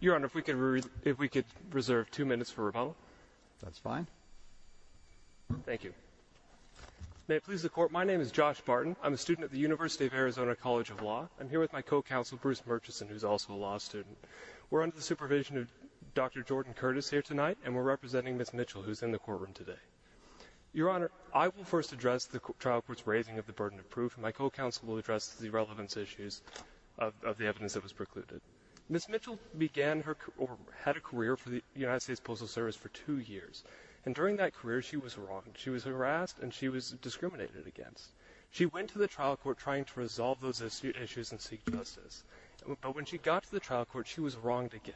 Your Honor, if we could reserve two minutes for rebuttal. That's fine. Thank you. May it please the Court, my name is Josh Barton, I'm a student at the University of Arizona College of Law. I'm here with my co-counsel, Bruce Murchison, who's also a law student. We're under the supervision of Dr. Jordan Curtis here tonight, and we're representing Ms. Mitchell, who's in the courtroom today. Your Honor, I will first address the trial court's raising of the burden of proof, and my co-counsel will address the relevance issues of the evidence that was precluded. Ms. Mitchell began her, or had a career for the United States Postal Service for two years, and during that career, she was wronged. She was harassed, and she was discriminated against. She went to the trial court trying to resolve those issues and seek justice, but when she got to the trial court, she was wronged again.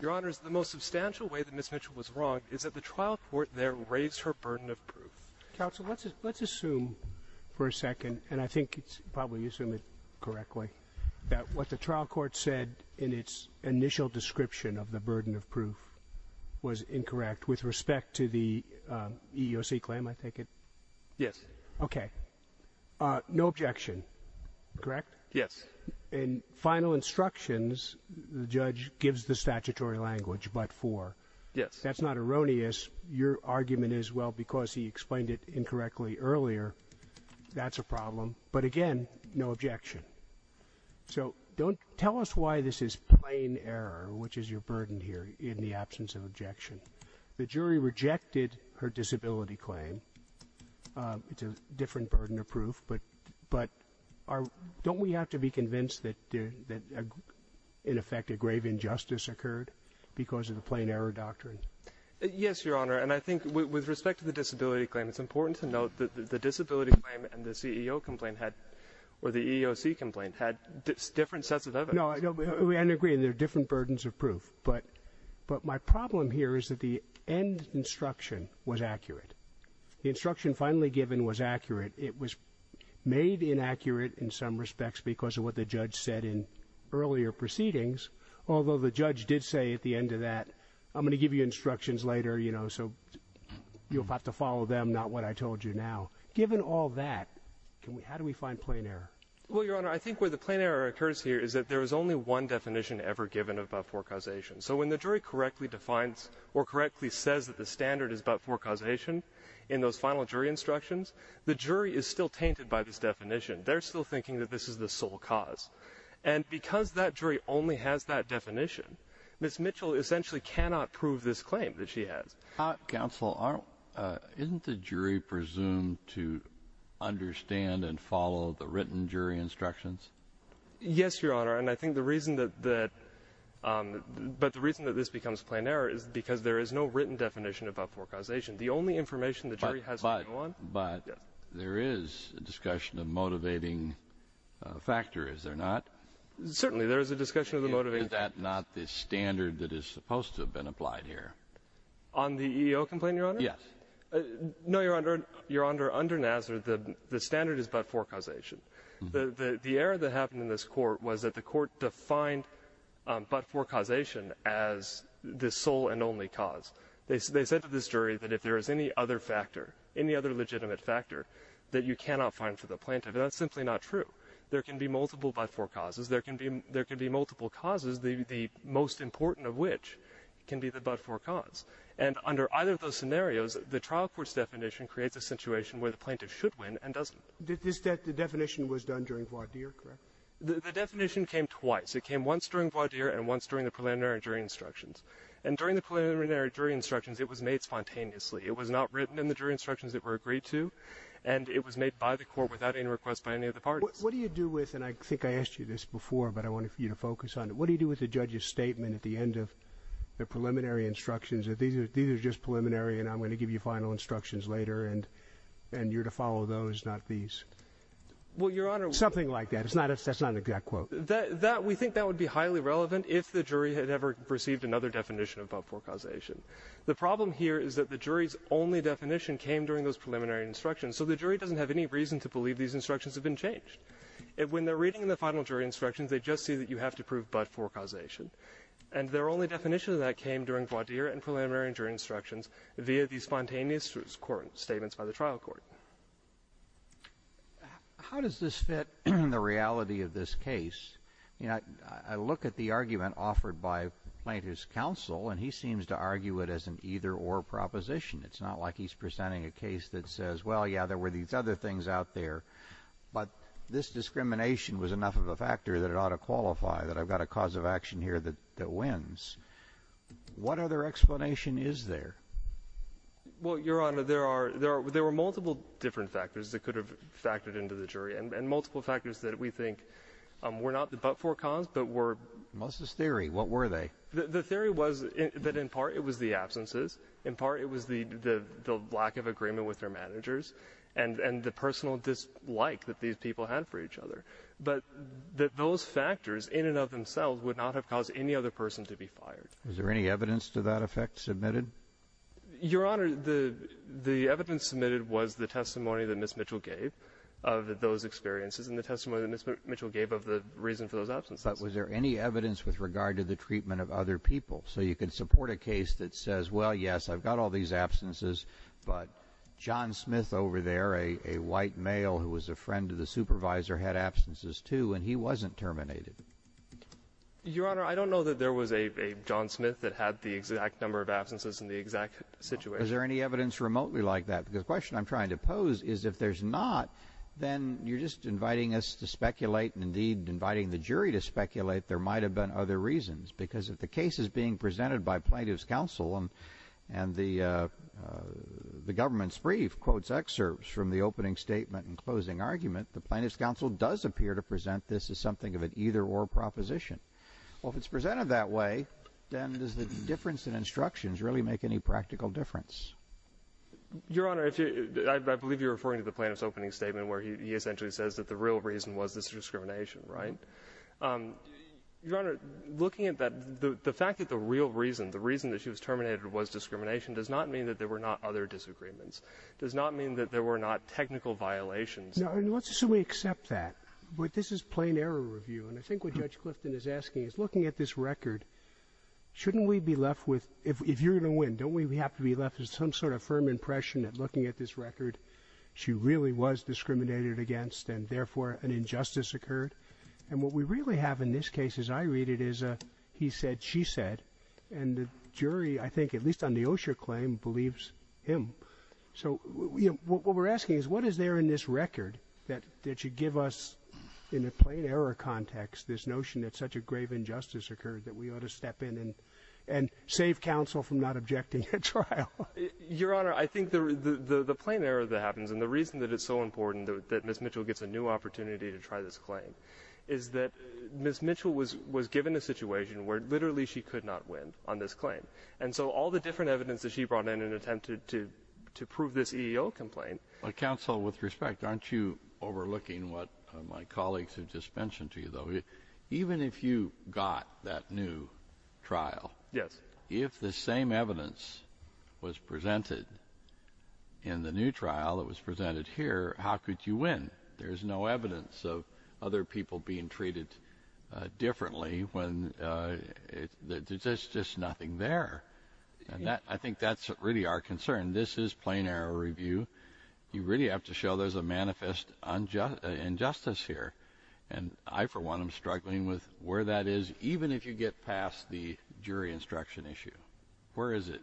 Your Honor, the most substantial way that Ms. Mitchell was wronged is that the trial court there raised her burden of proof. Counsel, let's assume for a second, and I think probably you assume it correctly, that what the trial court said in its initial description of the burden of proof was incorrect with respect to the EEOC claim, I take it? Yes. Okay. No objection. Correct? Yes. In final instructions, the judge gives the statutory language, but for. Yes. That's not erroneous. Your argument is, well, because he explained it incorrectly earlier, that's a problem. But again, no objection. So tell us why this is plain error, which is your burden here in the absence of objection. The jury rejected her disability claim. It's a different burden of proof, but don't we have to be convinced that in effect a grave injustice occurred because of the plain error doctrine? Yes, Your Honor, and I think with respect to the disability claim, it's important to note that the disability claim and the CEO complaint had, or the EEOC complaint had different sets of evidence. No, I agree. There are different burdens of proof, but my problem here is that the end instruction was accurate. The instruction finally given was accurate. It was made inaccurate in some respects because of what the judge said in earlier proceedings, although the judge did say at the end of that, I'm going to give you instructions later, you know, so you'll have to follow them, not what I told you now. Given all that, how do we find plain error? Well, Your Honor, I think where the plain error occurs here is that there is only one definition ever given about forecausation, so when the jury correctly defines or correctly says that the standard is about forecausation in those final jury instructions, the jury is still tainted by this definition. They're still thinking that this is the sole cause, and because that jury only has that definition, Ms. Mitchell essentially cannot prove this claim that she has. Counsel, isn't the jury presumed to understand and follow the written jury instructions? Yes, Your Honor, and I think the reason that this becomes plain error is because there is no written definition about forecausation. The only information the jury has to go on— But there is a discussion of motivating factor, is there not? Certainly, there is a discussion of the motivating— Is that not the standard that is supposed to have been applied here? On the EEO complaint, Your Honor? Yes. No, Your Honor, under NASR, the standard is about forecausation. The error that happened in this court was that the court defined but-for causation as the sole and only cause. They said to this jury that if there is any other factor, any other legitimate factor, that you cannot find for the plaintiff, and that's simply not true. There can be multiple but-for causes, there can be multiple causes, the most important of which can be the but-for cause. And under either of those scenarios, the trial court's definition creates a situation where the plaintiff should win and doesn't. Did this—the definition was done during voir dire, correct? The definition came twice. It came once during voir dire and once during the preliminary jury instructions. And during the preliminary jury instructions, it was made spontaneously. It was not written in the jury instructions that were agreed to, and it was made by the court without any request by any of the parties. What do you do with—and I think I asked you this before, but I wanted for you to focus on it. What do you do with the judge's statement at the end of the preliminary instructions that these are—these are just preliminary and I'm going to give you final instructions later and—and you're to follow those, not these? Well, Your Honor— Something like that. It's not—that's not an exact quote. That—that—we think that would be highly relevant if the jury had ever perceived another definition of but-for causation. The problem here is that the jury's only definition came during those preliminary instructions, so the jury doesn't have any reason to believe these instructions have been changed. When they're reading the final jury instructions, they just see that you have to prove both but-for causation. And their only definition of that came during voir dire and preliminary jury instructions via these spontaneous court—statements by the trial court. How does this fit in the reality of this case? You know, I—I look at the argument offered by Plaintiff's counsel and he seems to argue it as an either-or proposition. It's not like he's presenting a case that says, well, yeah, there were these other things out there, but this discrimination was enough of a factor that it ought to qualify, that I've got a cause of action here that—that wins. What other explanation is there? Well, Your Honor, there are—there are—there were multiple different factors that could have factored into the jury, and—and multiple factors that we think were not the but-for cause but were— What's this theory? What were they? The—the theory was that in part it was the absences, in part it was the—the lack of agreement with their managers, and—and the personal dislike that these people had for each other. But that those factors in and of themselves would not have caused any other person to be fired. Is there any evidence to that effect submitted? Your Honor, the—the evidence submitted was the testimony that Ms. Mitchell gave of those experiences and the testimony that Ms. Mitchell gave of the reason for those absences. But was there any evidence with regard to the treatment of other people? So you can support a case that says, well, yes, I've got all these absences, but John wasn't terminated. Your Honor, I don't know that there was a—a John Smith that had the exact number of absences in the exact situation. Is there any evidence remotely like that? Because the question I'm trying to pose is if there's not, then you're just inviting us to speculate, and indeed inviting the jury to speculate there might have been other reasons. Because if the case is being presented by plaintiff's counsel and—and the—the government's brief quotes excerpts from the opening statement and closing argument, the court is here to present this as something of an either-or proposition. Well, if it's presented that way, then does the difference in instructions really make any practical difference? Your Honor, if you—I—I believe you're referring to the plaintiff's opening statement where he—he essentially says that the real reason was this discrimination, right? Your Honor, looking at that, the—the fact that the real reason, the reason that she was terminated was discrimination does not mean that there were not other disagreements, does not mean that there were not technical violations. Let's assume we accept that. But this is plain error review, and I think what Judge Clifton is asking is, looking at this record, shouldn't we be left with—if—if you're going to win, don't we have to be left with some sort of firm impression that looking at this record, she really was discriminated against and, therefore, an injustice occurred? And what we really have in this case, as I read it, is a he said, she said, and the jury, I think, at least on the Osher claim, believes him. So, you know, what we're asking is, what is there in this record that—that should give us, in a plain error context, this notion that such a grave injustice occurred that we ought to step in and—and save counsel from not objecting a trial? Your Honor, I think the—the—the plain error that happens, and the reason that it's so important that—that Ms. Mitchell gets a new opportunity to try this claim, is that Ms. Mitchell was—was given a situation where, literally, she could not win on this claim. And so all the different evidence that she brought in and attempted to—to prove this EEO complaint— But, counsel, with respect, aren't you overlooking what my colleagues have just mentioned to you, though? Even if you got that new trial— Yes. —if the same evidence was presented in the new trial that was presented here, how could you win? There's no evidence of other people being treated differently when—there's just—there's nothing there. And that—I think that's really our concern. This is plain error review. You really have to show there's a manifest unjust—injustice here. And I, for one, am struggling with where that is, even if you get past the jury instruction issue. Where is it?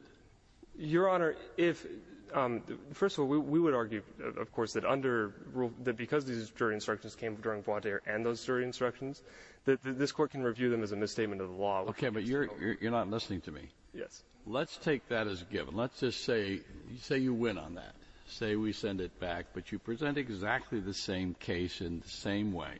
Your Honor, if—first of all, we—we would argue, of course, that under—that because these jury instructions came during Bois d'Ire and those jury instructions, that this Court can review them as a misstatement of the law. Okay, but you're—you're not listening to me. Yes. Let's take that as a given. Let's just say—say you win on that. Say we send it back, but you present exactly the same case in the same way.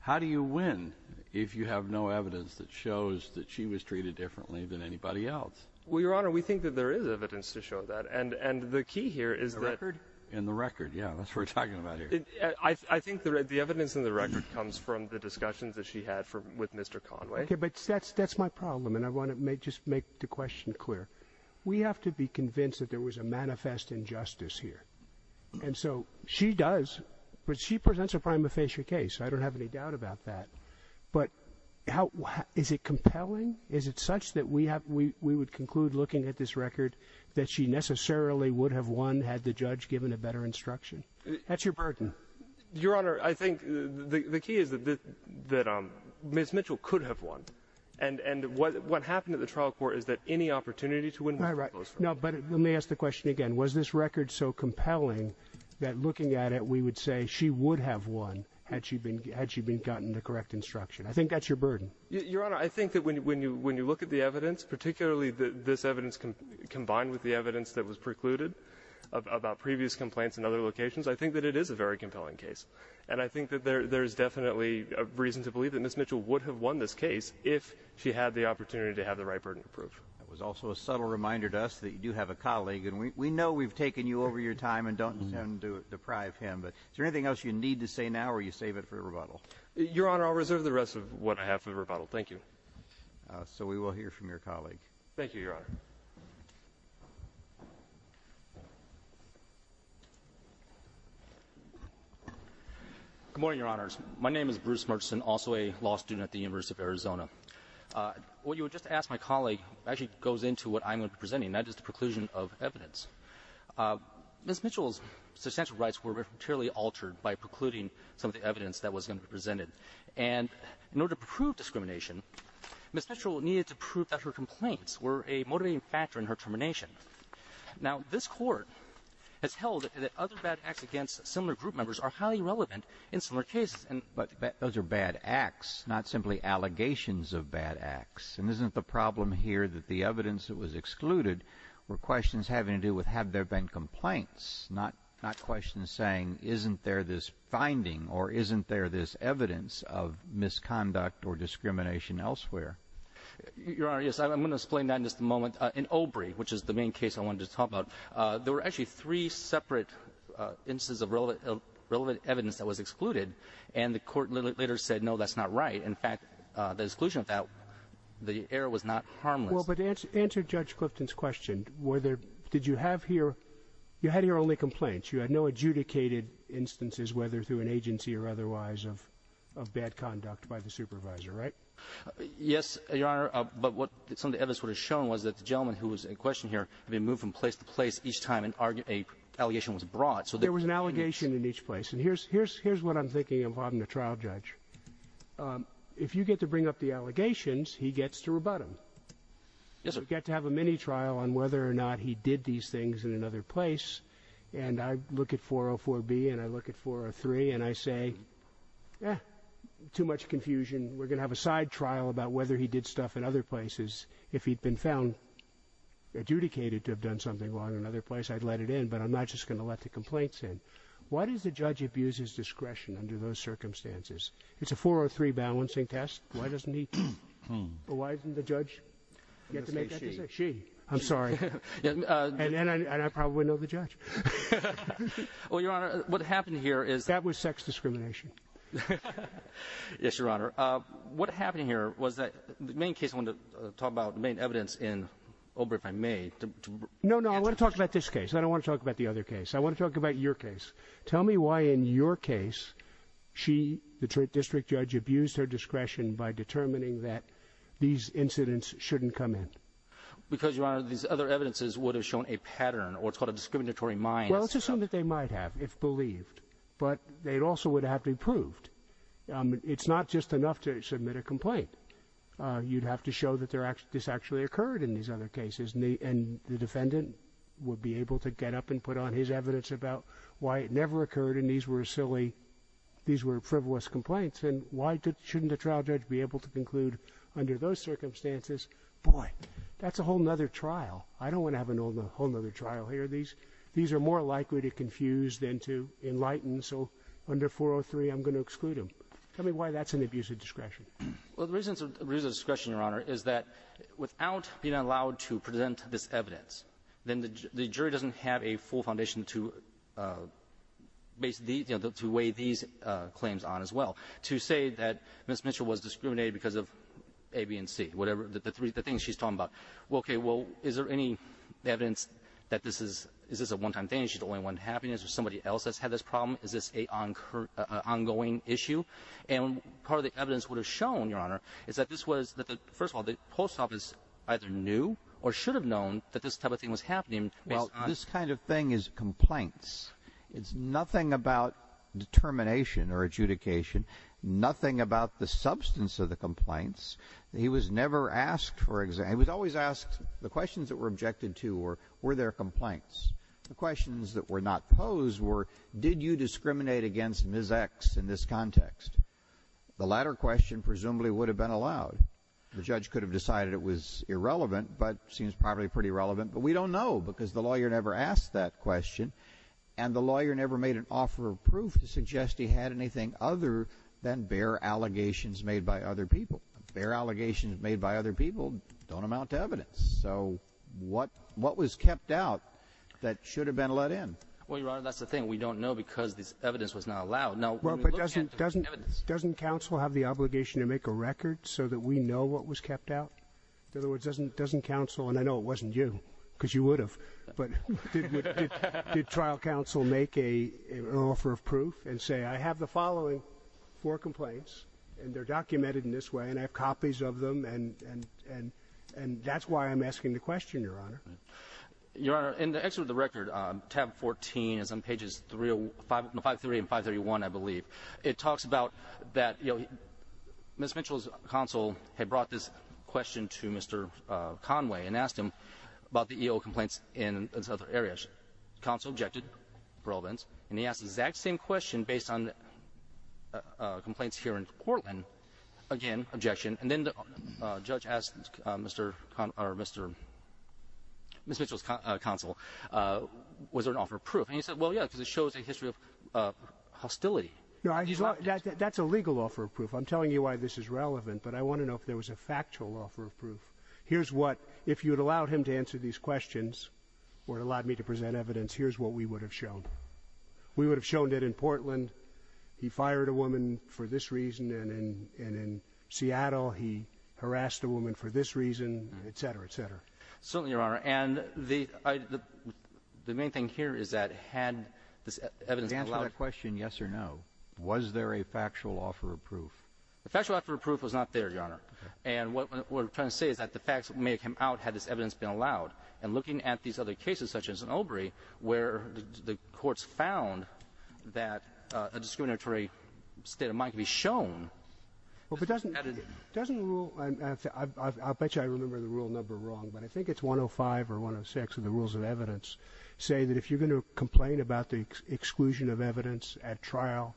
How do you win if you have no evidence that shows that she was treated differently than anybody else? Well, Your Honor, we think that there is evidence to show that. And—and the key here is that— In the record? In the record, yeah. That's what we're talking about here. I think the—the evidence in the record comes from the discussions that she had for—with Mr. Conway. Okay, but that's—that's my problem, and I want to make—just make the question clear. We have to be convinced that there was a manifest injustice here. And so she does, but she presents a prima facie case. I don't have any doubt about that. But how—is it compelling? Is it such that we have—we—we would conclude looking at this record that she necessarily would have won had the judge given a better instruction? That's your burden. Your Honor, I think the—the key is that—that Ms. Mitchell could have won. And—and what—what happened at the trial court is that any opportunity to win was— Right, right. No, but let me ask the question again. Was this record so compelling that looking at it, we would say she would have won had she been—had she been gotten the correct instruction? I think that's your burden. Your Honor, I think that when you—when you look at the evidence, particularly this evidence combined with the evidence that was precluded about previous complaints in other locations, I think that it is a very compelling case. And I think that there—there's definitely a reason to believe that Ms. Mitchell would have won this case if she had the opportunity to have the right burden of proof. That was also a subtle reminder to us that you do have a colleague. And we—we know we've taken you over your time and don't intend to deprive him. But is there anything else you need to say now or you save it for rebuttal? Your Honor, I'll reserve the rest of what I have for rebuttal. Thank you. So we will hear from your colleague. Thank you, Your Honor. Good morning, Your Honors. My name is Bruce Murchison, also a law student at the University of Arizona. What you would just ask my colleague actually goes into what I'm going to be presenting, and that is the preclusion of evidence. Ms. Mitchell's substantial rights were materially altered by precluding some of the evidence that was going to be presented. And in order to prove discrimination, Ms. Mitchell needed to prove that her complaints were a motivating factor in her termination. Now, this Court has held that other bad acts against similar group members are highly relevant in similar cases, and— But those are bad acts, not simply allegations of bad acts. And isn't the problem here that the evidence that was excluded were questions having to do with have there been complaints, not—not questions saying isn't there this finding or isn't there this evidence of misconduct or discrimination elsewhere? Your Honor, yes. I'm going to explain that in just a moment. In Obrey, which is the main case I wanted to talk about, there were actually three separate instances of relevant evidence that was excluded, and the Court later said, no, that's not right. In fact, the exclusion of that, the error was not harmless. Well, but answer Judge Clifton's question. Were there—did you have here—you had here only complaints. You had no adjudicated instances, whether through an agency or otherwise, of bad conduct by the supervisor, right? Yes, Your Honor. But what some of the evidence would have shown was that the gentleman who was in question here had been moved from place to place each time an allegation was brought, so— There was an allegation in each place. And here's what I'm thinking of having a trial judge. If you get to bring up the allegations, he gets to rebut them. Yes, sir. You get to have a mini-trial on whether or not he did these things in another place, and I look at 404B and I look at 403 and I say, eh, too much confusion. We're going to have a side trial about whether he did stuff in other places. If he'd been found adjudicated to have done something wrong in another place, I'd let it in, but I'm not just going to let the complaints in. Why does the judge abuse his discretion under those circumstances? It's a 403 balancing test. Why doesn't he—or why doesn't the judge get to make that decision? She. I'm sorry. And I probably know the judge. Well, Your Honor, what happened here is— That was sex discrimination. Yes, Your Honor. What happened here was that—the main case I want to talk about, the main evidence in Obergefell made— No, no. I want to talk about this case. I don't want to talk about the other case. I want to talk about your case. Tell me why in your case she, the district judge, abused her discretion by determining that these incidents shouldn't come in. Because, Your Honor, these other evidences would have shown a pattern, or it's called a discriminatory mind. Let's assume that they might have, if believed. But they also would have to be proved. It's not just enough to submit a complaint. You'd have to show that this actually occurred in these other cases. And the defendant would be able to get up and put on his evidence about why it never occurred and these were silly—these were frivolous complaints. And why shouldn't a trial judge be able to conclude under those circumstances, boy, that's a whole other trial. I don't want to have a whole other trial here. These are more likely to confuse than to enlighten. So under 403, I'm going to exclude them. Tell me why that's an abuse of discretion. Well, the reason it's an abuse of discretion, Your Honor, is that without being allowed to present this evidence, then the jury doesn't have a full foundation to weigh these claims on as well. To say that Ms. Mitchell was discriminated because of A, B, and C, whatever, the things she's talking about. Okay, well, is there any evidence that this is—is this a one-time thing? Is she the only one having this or somebody else has had this problem? Is this an ongoing issue? And part of the evidence would have shown, Your Honor, is that this was—first of all, the post office either knew or should have known that this type of thing was happening. Well, this kind of thing is complaints. It's nothing about determination or adjudication. Nothing about the substance of the complaints. He was never asked for—he was always asked—the questions that were objected to were, were there complaints? The questions that were not posed were, did you discriminate against Ms. X in this context? The latter question presumably would have been allowed. The judge could have decided it was irrelevant but seems probably pretty relevant. But we don't know because the lawyer never asked that question and the lawyer never made an offer of proof to suggest he had anything other than bare allegations made by other people. Bare allegations made by other people don't amount to evidence. So what, what was kept out that should have been let in? Well, Your Honor, that's the thing. We don't know because this evidence was not allowed. No, but doesn't, doesn't, doesn't counsel have the obligation to make a record so that we know what was kept out? In other words, doesn't, doesn't counsel—and I know it wasn't you because you would have—but did trial counsel make an offer of proof and say, I have the following four complaints and they're documented in this way and I have copies of them and, and, and, and that's why I'm asking the question, Your Honor. Your Honor, in the excerpt of the record, tab 14 is on pages 305, 53 and 531, I believe. It talks about that, you know, Ms. Mitchell's counsel had brought this question to Mr. Conway and asked him about the EO complaints in his other areas. Counsel objected, irrelevance, and he asked the exact same question based on complaints here in Portland. Again, objection. And then the judge asked Mr. Con, or Mr., Ms. Mitchell's counsel, was there an offer of proof? And he said, well, yeah, because it shows a history of hostility. No, I, that's a legal offer of proof. I'm telling you why this is relevant, but I want to know if there was a factual offer of proof. Here's what, if you had allowed him to answer these questions or allowed me to present evidence, here's what we would have shown. We would have shown that in Portland, he fired a woman for this reason. And in, and in Seattle, he harassed a woman for this reason, et cetera, et cetera. Certainly, Your Honor. And the, I, the main thing here is that had this evidence allowed. To answer that question, yes or no, was there a factual offer of proof? The factual offer of proof was not there, Your Honor. And what we're trying to say is that the facts may have come out had this evidence been allowed. And looking at these other cases, such as in Obrey, where the courts found that a discriminatory state of mind can be shown. Well, but doesn't, doesn't the rule, I bet you I remember the rule number wrong, but I think it's 105 or 106 of the rules of evidence say that if you're going to complain about the exclusion of evidence at trial,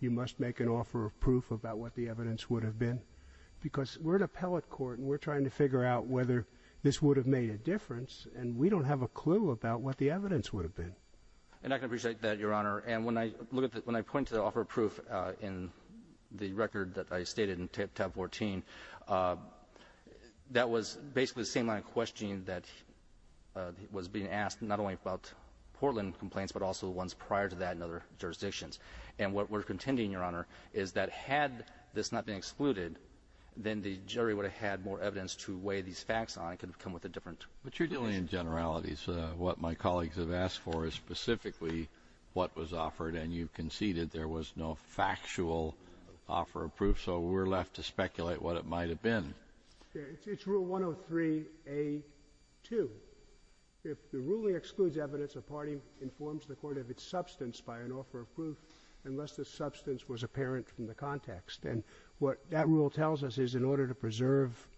you must make an offer of proof about what the evidence would have been. Because we're an appellate court and we're trying to figure out whether this would have made a difference. And we don't have a clue about what the evidence would have been. And I can appreciate that, Your Honor. And when I look at, when I point to the offer of proof in the record that I stated in tab 14, that was basically the same line of questioning that was being asked, not only about Portland complaints, but also the ones prior to that in other jurisdictions. And what we're contending, Your Honor, is that had this not been excluded, then the jury would have had more evidence to weigh these facts on. It could have come with a different conclusion. But you're dealing in generalities. What my colleagues have asked for is specifically what was offered. And you conceded there was no factual offer of proof. So we're left to speculate what it might have been. It's rule 103A2. If the ruling excludes evidence, a party informs the court of its substance by an offer of proof unless the substance was apparent from the context. And what that rule tells us is in order to preserve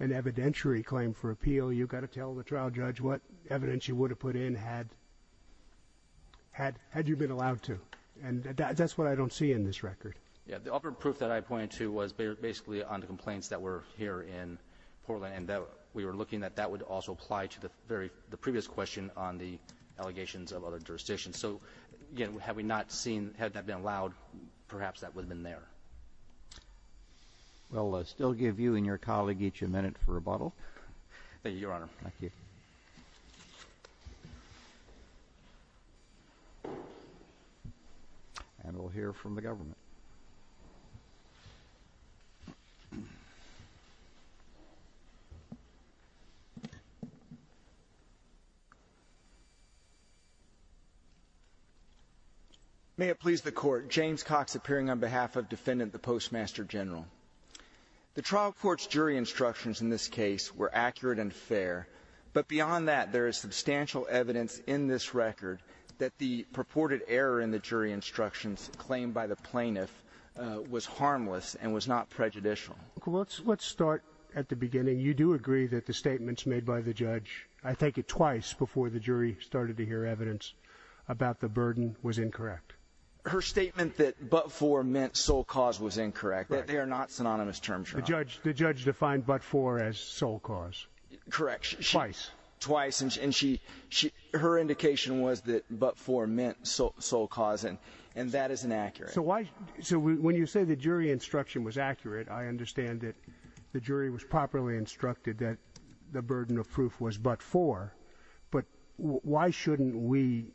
an evidentiary claim for appeal, you've got to tell the trial judge what evidence you would have put in had you been allowed to. And that's what I don't see in this record. Yeah. The offer of proof that I pointed to was basically on the complaints that were here in Portland. And we were looking that that would also apply to the previous question on the allegations of other jurisdictions. So, again, had that been allowed, perhaps that would have been there. We'll still give you and your colleague each a minute for rebuttal. Thank you, Your Honor. Thank you. And we'll hear from the government. May it please the Court. James Cox appearing on behalf of Defendant the Postmaster General. The trial court's jury instructions in this case were accurate and fair. But beyond that, there is substantial evidence in this record that the purported error in the jury instructions claimed by the plaintiff was harmless and was not prejudicial. Let's start at the beginning. You do agree that the statements made by the judge, I think it twice before the jury started to hear evidence about the burden, was incorrect. Her statement that but for meant sole cause was incorrect, that they are not synonymous terms. The judge, the judge defined but for as sole cause. Correct. Twice. Twice. And she, she, her indication was that but for meant sole cause. And, and that is inaccurate. So why? So when you say the jury instruction was accurate, I understand that the jury was properly instructed that the burden of proof was but for. But why shouldn't we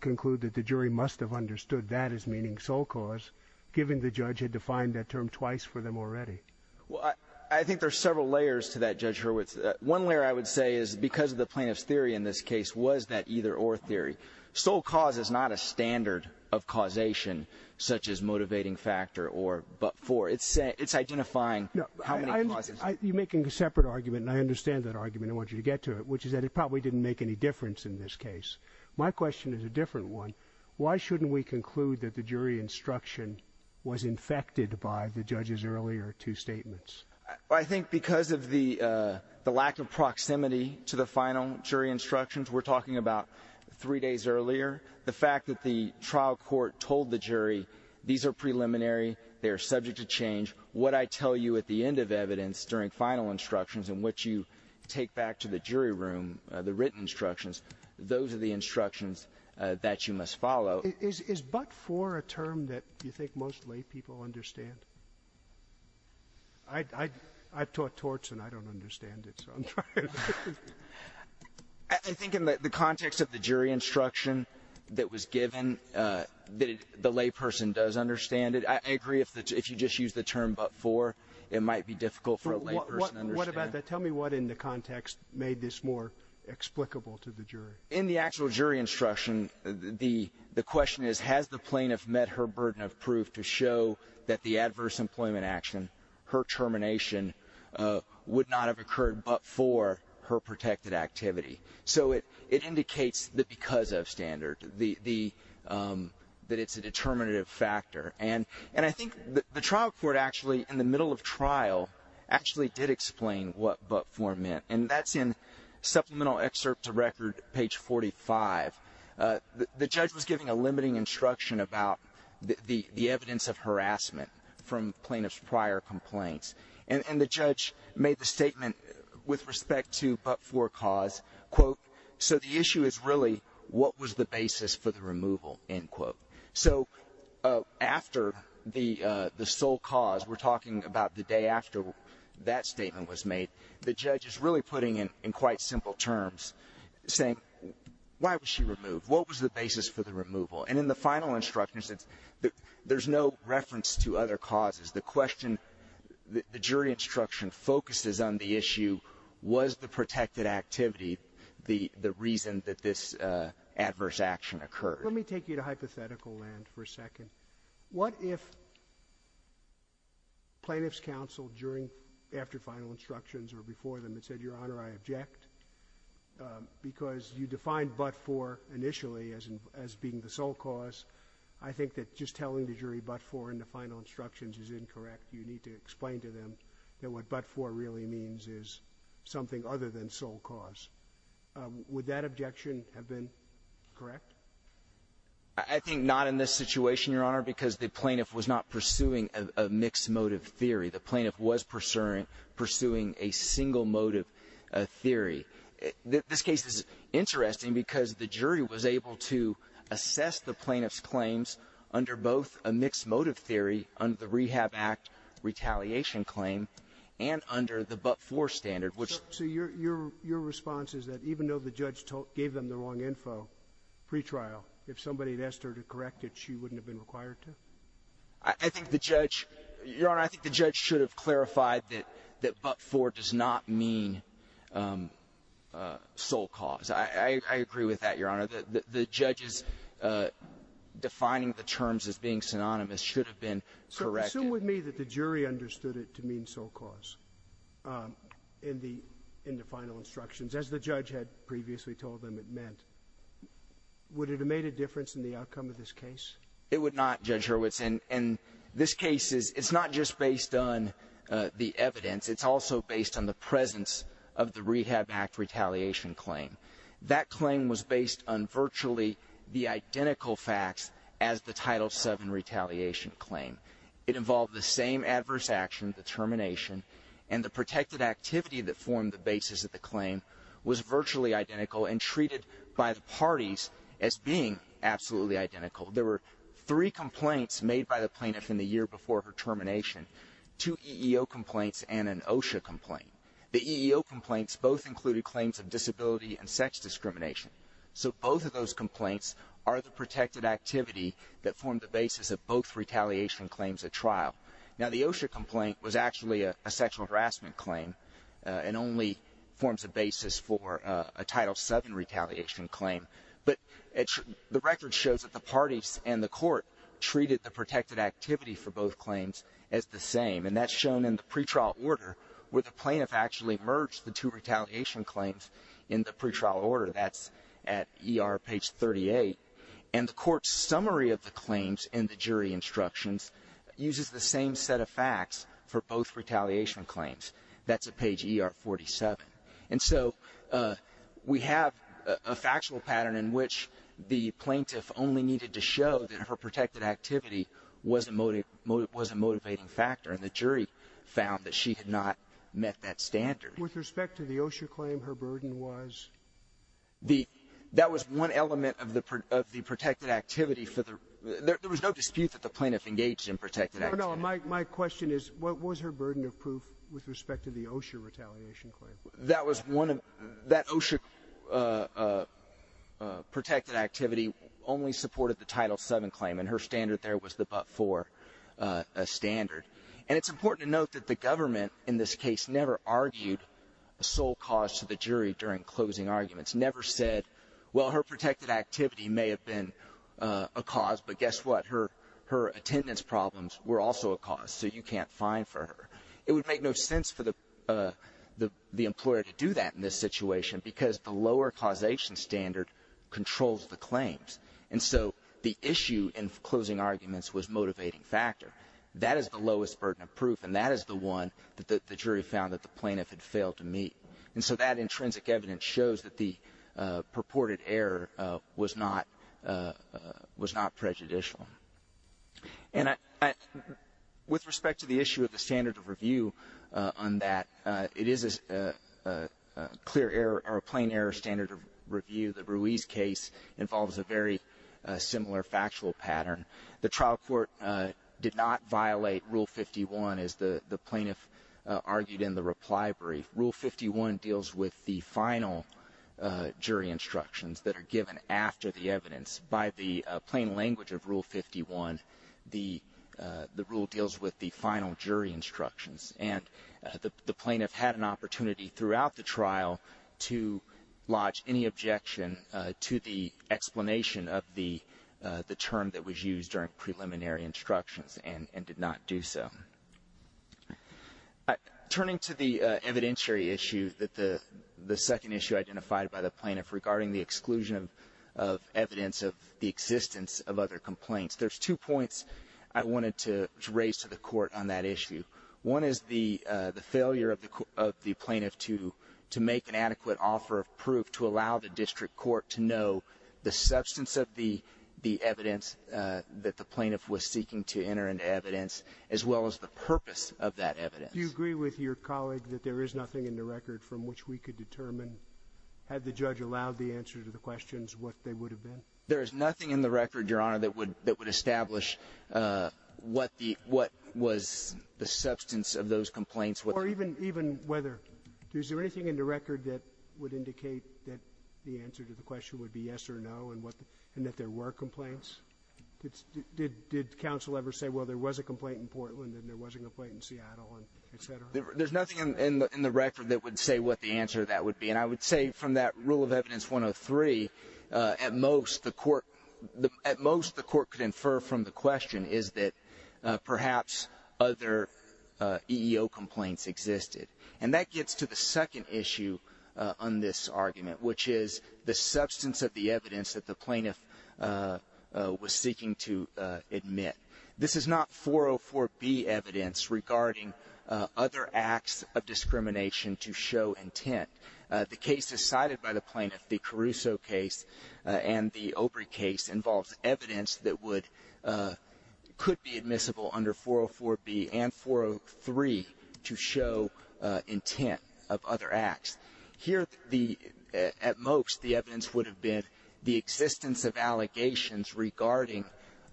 conclude that the jury must have understood that as meaning sole cause, given the judge had defined that term twice for them already? Well, I think there's several layers to that, Judge Hurwitz. One layer, I would say, is because of the plaintiff's theory in this case was that either or theory. Sole cause is not a standard of causation, such as motivating factor or but for. It's, it's identifying how many causes. You're making a separate argument, and I understand that argument. I want you to get to it, which is that it probably didn't make any difference in this case. My question is a different one. Why shouldn't we conclude that the jury instruction was infected by the judge's earlier two statements? I think because of the, uh, the lack of proximity to the final jury instructions, we're talking about three days earlier, the fact that the trial court told the jury, these are preliminary, they're subject to change. What I tell you at the end of evidence during final instructions in which you take back to the jury room, the written instructions, those are the instructions that you must follow. Is, is but for a term that you think most lay people understand? I, I, I've taught torts and I don't understand it, so I'm trying. I think in the context of the jury instruction that was given, uh, that the lay person does understand it. I agree if the, if you just use the term, but for, it might be difficult for a lay person. What about that? Tell me what in the context made this more explicable to the jury in the actual jury instruction. The, the question is, has the plaintiff met her burden of proof to show that the adverse employment action, her termination, uh, would not have occurred, but for her protected activity. So it, it indicates that because of standard, the, the, um, that it's a determinative factor and, and I think the trial court actually in the middle of trial actually did explain what, but for men. And that's in supplemental excerpt to record page 45, uh, the, the judge was giving a limiting instruction about the, the, the evidence of harassment from plaintiff's prior complaints. And, and the judge made the statement with respect to, but for cause quote, so the issue is really what was the basis for the removal end quote. So, uh, after the, uh, the sole cause we're talking about the day after that statement was made, the judge is really putting in, in quite simple terms saying, why was she removed? What was the basis for the removal? And in the final instructions, it's, there's no reference to other causes. The question, the jury instruction focuses on the issue was the protected activity. The, the reason that this, uh, adverse action occurred. Let me take you to hypothetical land for a second. What if plaintiff's counsel during, after final instructions or before them had said, Your Honor, I object, um, because you defined but for initially as, as being the sole cause. I think that just telling the jury but for in the final instructions is incorrect. You need to explain to them that what but for really means is something other than sole cause. Would that objection have been correct? I think not in this situation, Your Honor, because the plaintiff was not pursuing a mixed motive theory. The plaintiff was pursuing, pursuing a single motive theory. This case is interesting because the jury was able to assess the plaintiff's claims under both a mixed motive theory under the rehab act retaliation claim and under the but for standard, which So your, your, your response is that even though the judge told, gave them the wrong pre-trial, if somebody had asked her to correct it, she wouldn't have been required to. I think the judge, Your Honor, I think the judge should have clarified that, that but for does not mean, um, uh, sole cause. I, I, I agree with that, Your Honor, that the judges, uh, defining the terms as being synonymous should have been. So assume with me that the jury understood it to mean sole cause, um, in the, in the Would it have made a difference in the outcome of this case? It would not judge Hurwitz. And, and this case is, it's not just based on, uh, the evidence. It's also based on the presence of the rehab act retaliation claim. That claim was based on virtually the identical facts as the title seven retaliation claim. It involved the same adverse action, the termination and the protected activity that the basis of the claim was virtually identical and treated by the parties as being absolutely identical. There were three complaints made by the plaintiff in the year before her termination, two EEO complaints and an OSHA complaint. The EEO complaints both included claims of disability and sex discrimination. So both of those complaints are the protected activity that formed the basis of both retaliation claims at trial. Now, the OSHA complaint was actually a sexual harassment claim, uh, and only forms a basis for a title seven retaliation claim. But the record shows that the parties and the court treated the protected activity for both claims as the same. And that's shown in the pretrial order where the plaintiff actually merged the two retaliation claims in the pretrial order. That's at ER page 38. And the court's summary of the claims in the jury instructions uses the same set of facts for both retaliation claims. That's at page ER 47. And so, uh, we have a factual pattern in which the plaintiff only needed to show that her protected activity was a motive, was a motivating factor. And the jury found that she had not met that standard. With respect to the OSHA claim, her burden was? The, that was one element of the, of the protected activity for the, there was no dispute that the plaintiff engaged in protected. I know my, my question is what was her burden of proof with respect to the OSHA retaliation claim? That was one of that OSHA, uh, uh, uh, uh, protected activity only supported the title seven claim. And her standard there was the, but for, uh, a standard. And it's important to note that the government in this case never argued a sole cause to the jury during closing arguments, never said, well, her protected activity may have been, uh, a cause, but guess what? Her, her attendance problems were also a cause. So you can't find for her. It would make no sense for the, uh, the, the employer to do that in this situation because the lower causation standard controls the claims. And so the issue in closing arguments was motivating factor. That is the lowest burden of proof. And that is the one that the jury found that the plaintiff had failed to meet. And so that intrinsic evidence shows that the purported error, uh, was not, uh, uh, was not prejudicial. And I, I, with respect to the issue of the standard of review, uh, on that, uh, it is a, uh, uh, a clear error or a plain error standard of review. The Ruiz case involves a very similar factual pattern. The trial court, uh, did not violate rule 51 as the, the plaintiff, uh, argued in the reply brief. Rule 51 deals with the final, uh, jury instructions that are given after the evidence by the plain language of rule 51, the, uh, the rule deals with the final jury instructions. And, uh, the, the plaintiff had an opportunity throughout the trial to lodge any objection, uh, to the explanation of the, uh, the term that was used during preliminary instructions and, and did not do so. Uh, turning to the, uh, evidentiary issue that the, the second issue identified by the plaintiff regarding the exclusion of, of evidence of the existence of other complaints, there's two points I wanted to raise to the court on that issue. One is the, uh, the failure of the, of the plaintiff to, to make an adequate offer of proof to allow the district court to know the substance of the, the evidence, uh, that the plaintiff was seeking to enter into evidence as well as the purpose of that evidence. Do you agree with your colleague that there is nothing in the record from which we could determine, had the judge allowed the answer to the questions, what they would have been? There is nothing in the record, Your Honor, that would, that would establish, uh, what the, what was the substance of those complaints. Or even, even whether, is there anything in the record that would indicate that the answer to the question would be yes or no, and what, and that there were complaints? Did, did, did counsel ever say, well, there was a complaint in Portland and there was a complaint in Seattle and et cetera? There's nothing in the, in the record that would say what the answer to that would be. And I would say from that rule of evidence 103, uh, at most the court, the, at most the court could infer from the question is that, uh, perhaps other, uh, EEO complaints existed. And that gets to the second issue, uh, on this argument, which is the substance of the evidence that the plaintiff, uh, uh, was seeking to, uh, admit. This is not 404B evidence regarding, uh, other acts of discrimination to show intent. Uh, the case decided by the plaintiff, the Caruso case, uh, and the Obrey case involves evidence that would, uh, could be admissible under 404B and 403 to show, uh, intent of other acts here. The, uh, at most the evidence would have been the existence of allegations regarding,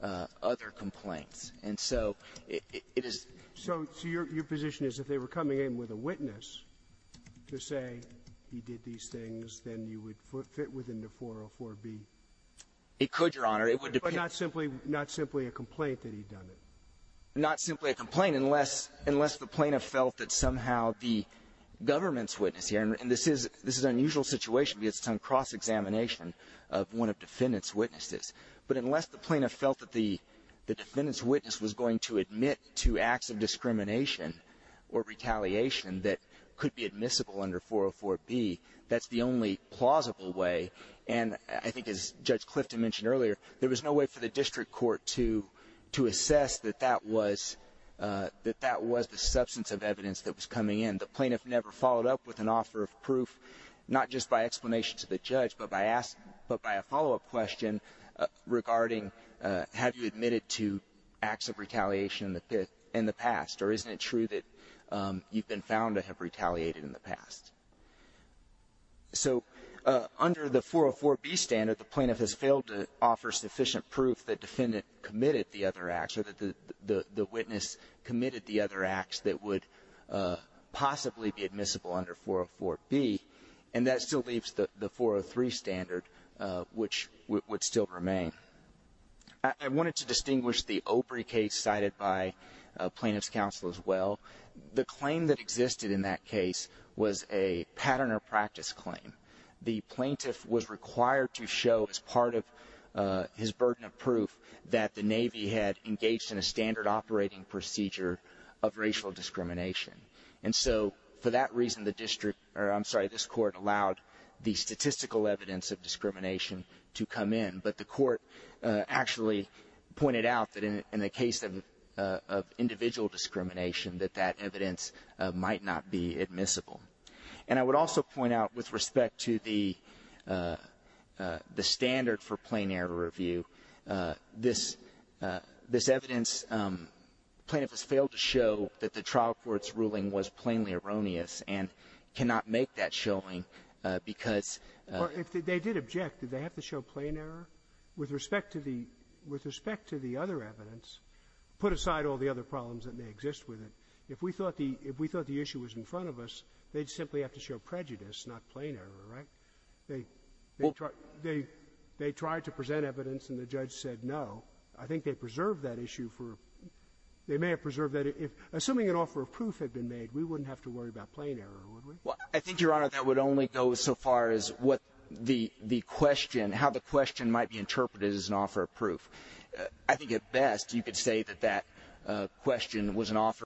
uh, other complaints. And so it is, so, so your, your position is if they were coming in with a witness to say he did these things, then you would fit within the 404B. It could, Your Honor. It would depend. But not simply, not simply a complaint that he'd done it. Not simply a complaint unless, unless the plaintiff felt that somehow the government's witness here, and this is, this is an unusual situation because it's on cross-examination of one of defendant's witnesses. But unless the plaintiff felt that the, the defendant's witness was going to admit to acts of discrimination or retaliation that could be admissible under 404B, that's the only plausible way. And I think as Judge Clifton mentioned earlier, there was no way for the district court to, to assess that that was, uh, that that was the substance of evidence that was coming in. The plaintiff never followed up with an offer of proof, not just by explanation to the judge, but by asking, but by a follow-up question, uh, regarding, uh, have you admitted to acts of retaliation in the past? Or isn't it true that, um, you've been found to have retaliated in the past? So, uh, under the 404B standard, the plaintiff has failed to offer sufficient proof that defendant committed the other acts or that the, the, the witness committed the other acts that would, uh, possibly be admissible under 404B. And that still leaves the, the 403 standard, uh, which would, would still remain. I, I wanted to distinguish the Opry case cited by, uh, plaintiff's counsel as well. The claim that existed in that case was a pattern or practice claim. The plaintiff was required to show as part of, uh, his burden of proof that the Navy had engaged in a standard operating procedure of racial discrimination. And so for that reason, the district, or I'm sorry, this court allowed the statistical evidence of discrimination to come in. But the court, uh, actually pointed out that in, in the case of, uh, of individual discrimination, that that evidence, uh, might not be admissible. And I would also point out with respect to the, uh, uh, the standard for plain error review, uh, this, uh, this evidence, um, plaintiff has failed to show that the trial court's ruling was plainly erroneous and cannot make that showing, uh, because, uh… Or if they did object, did they have to show plain error with respect to the, with If we thought the, if we thought the issue was in front of us, they'd simply have to show prejudice, not plain error, right? They, they tried, they, they tried to present evidence and the judge said no. I think they preserved that issue for, they may have preserved that if, assuming an offer of proof had been made, we wouldn't have to worry about plain error, would we? Well, I think, Your Honor, that would only go so far as what the, the question, how the question might be interpreted as an offer of proof. I think at best, you could say that that, uh, question was an offer.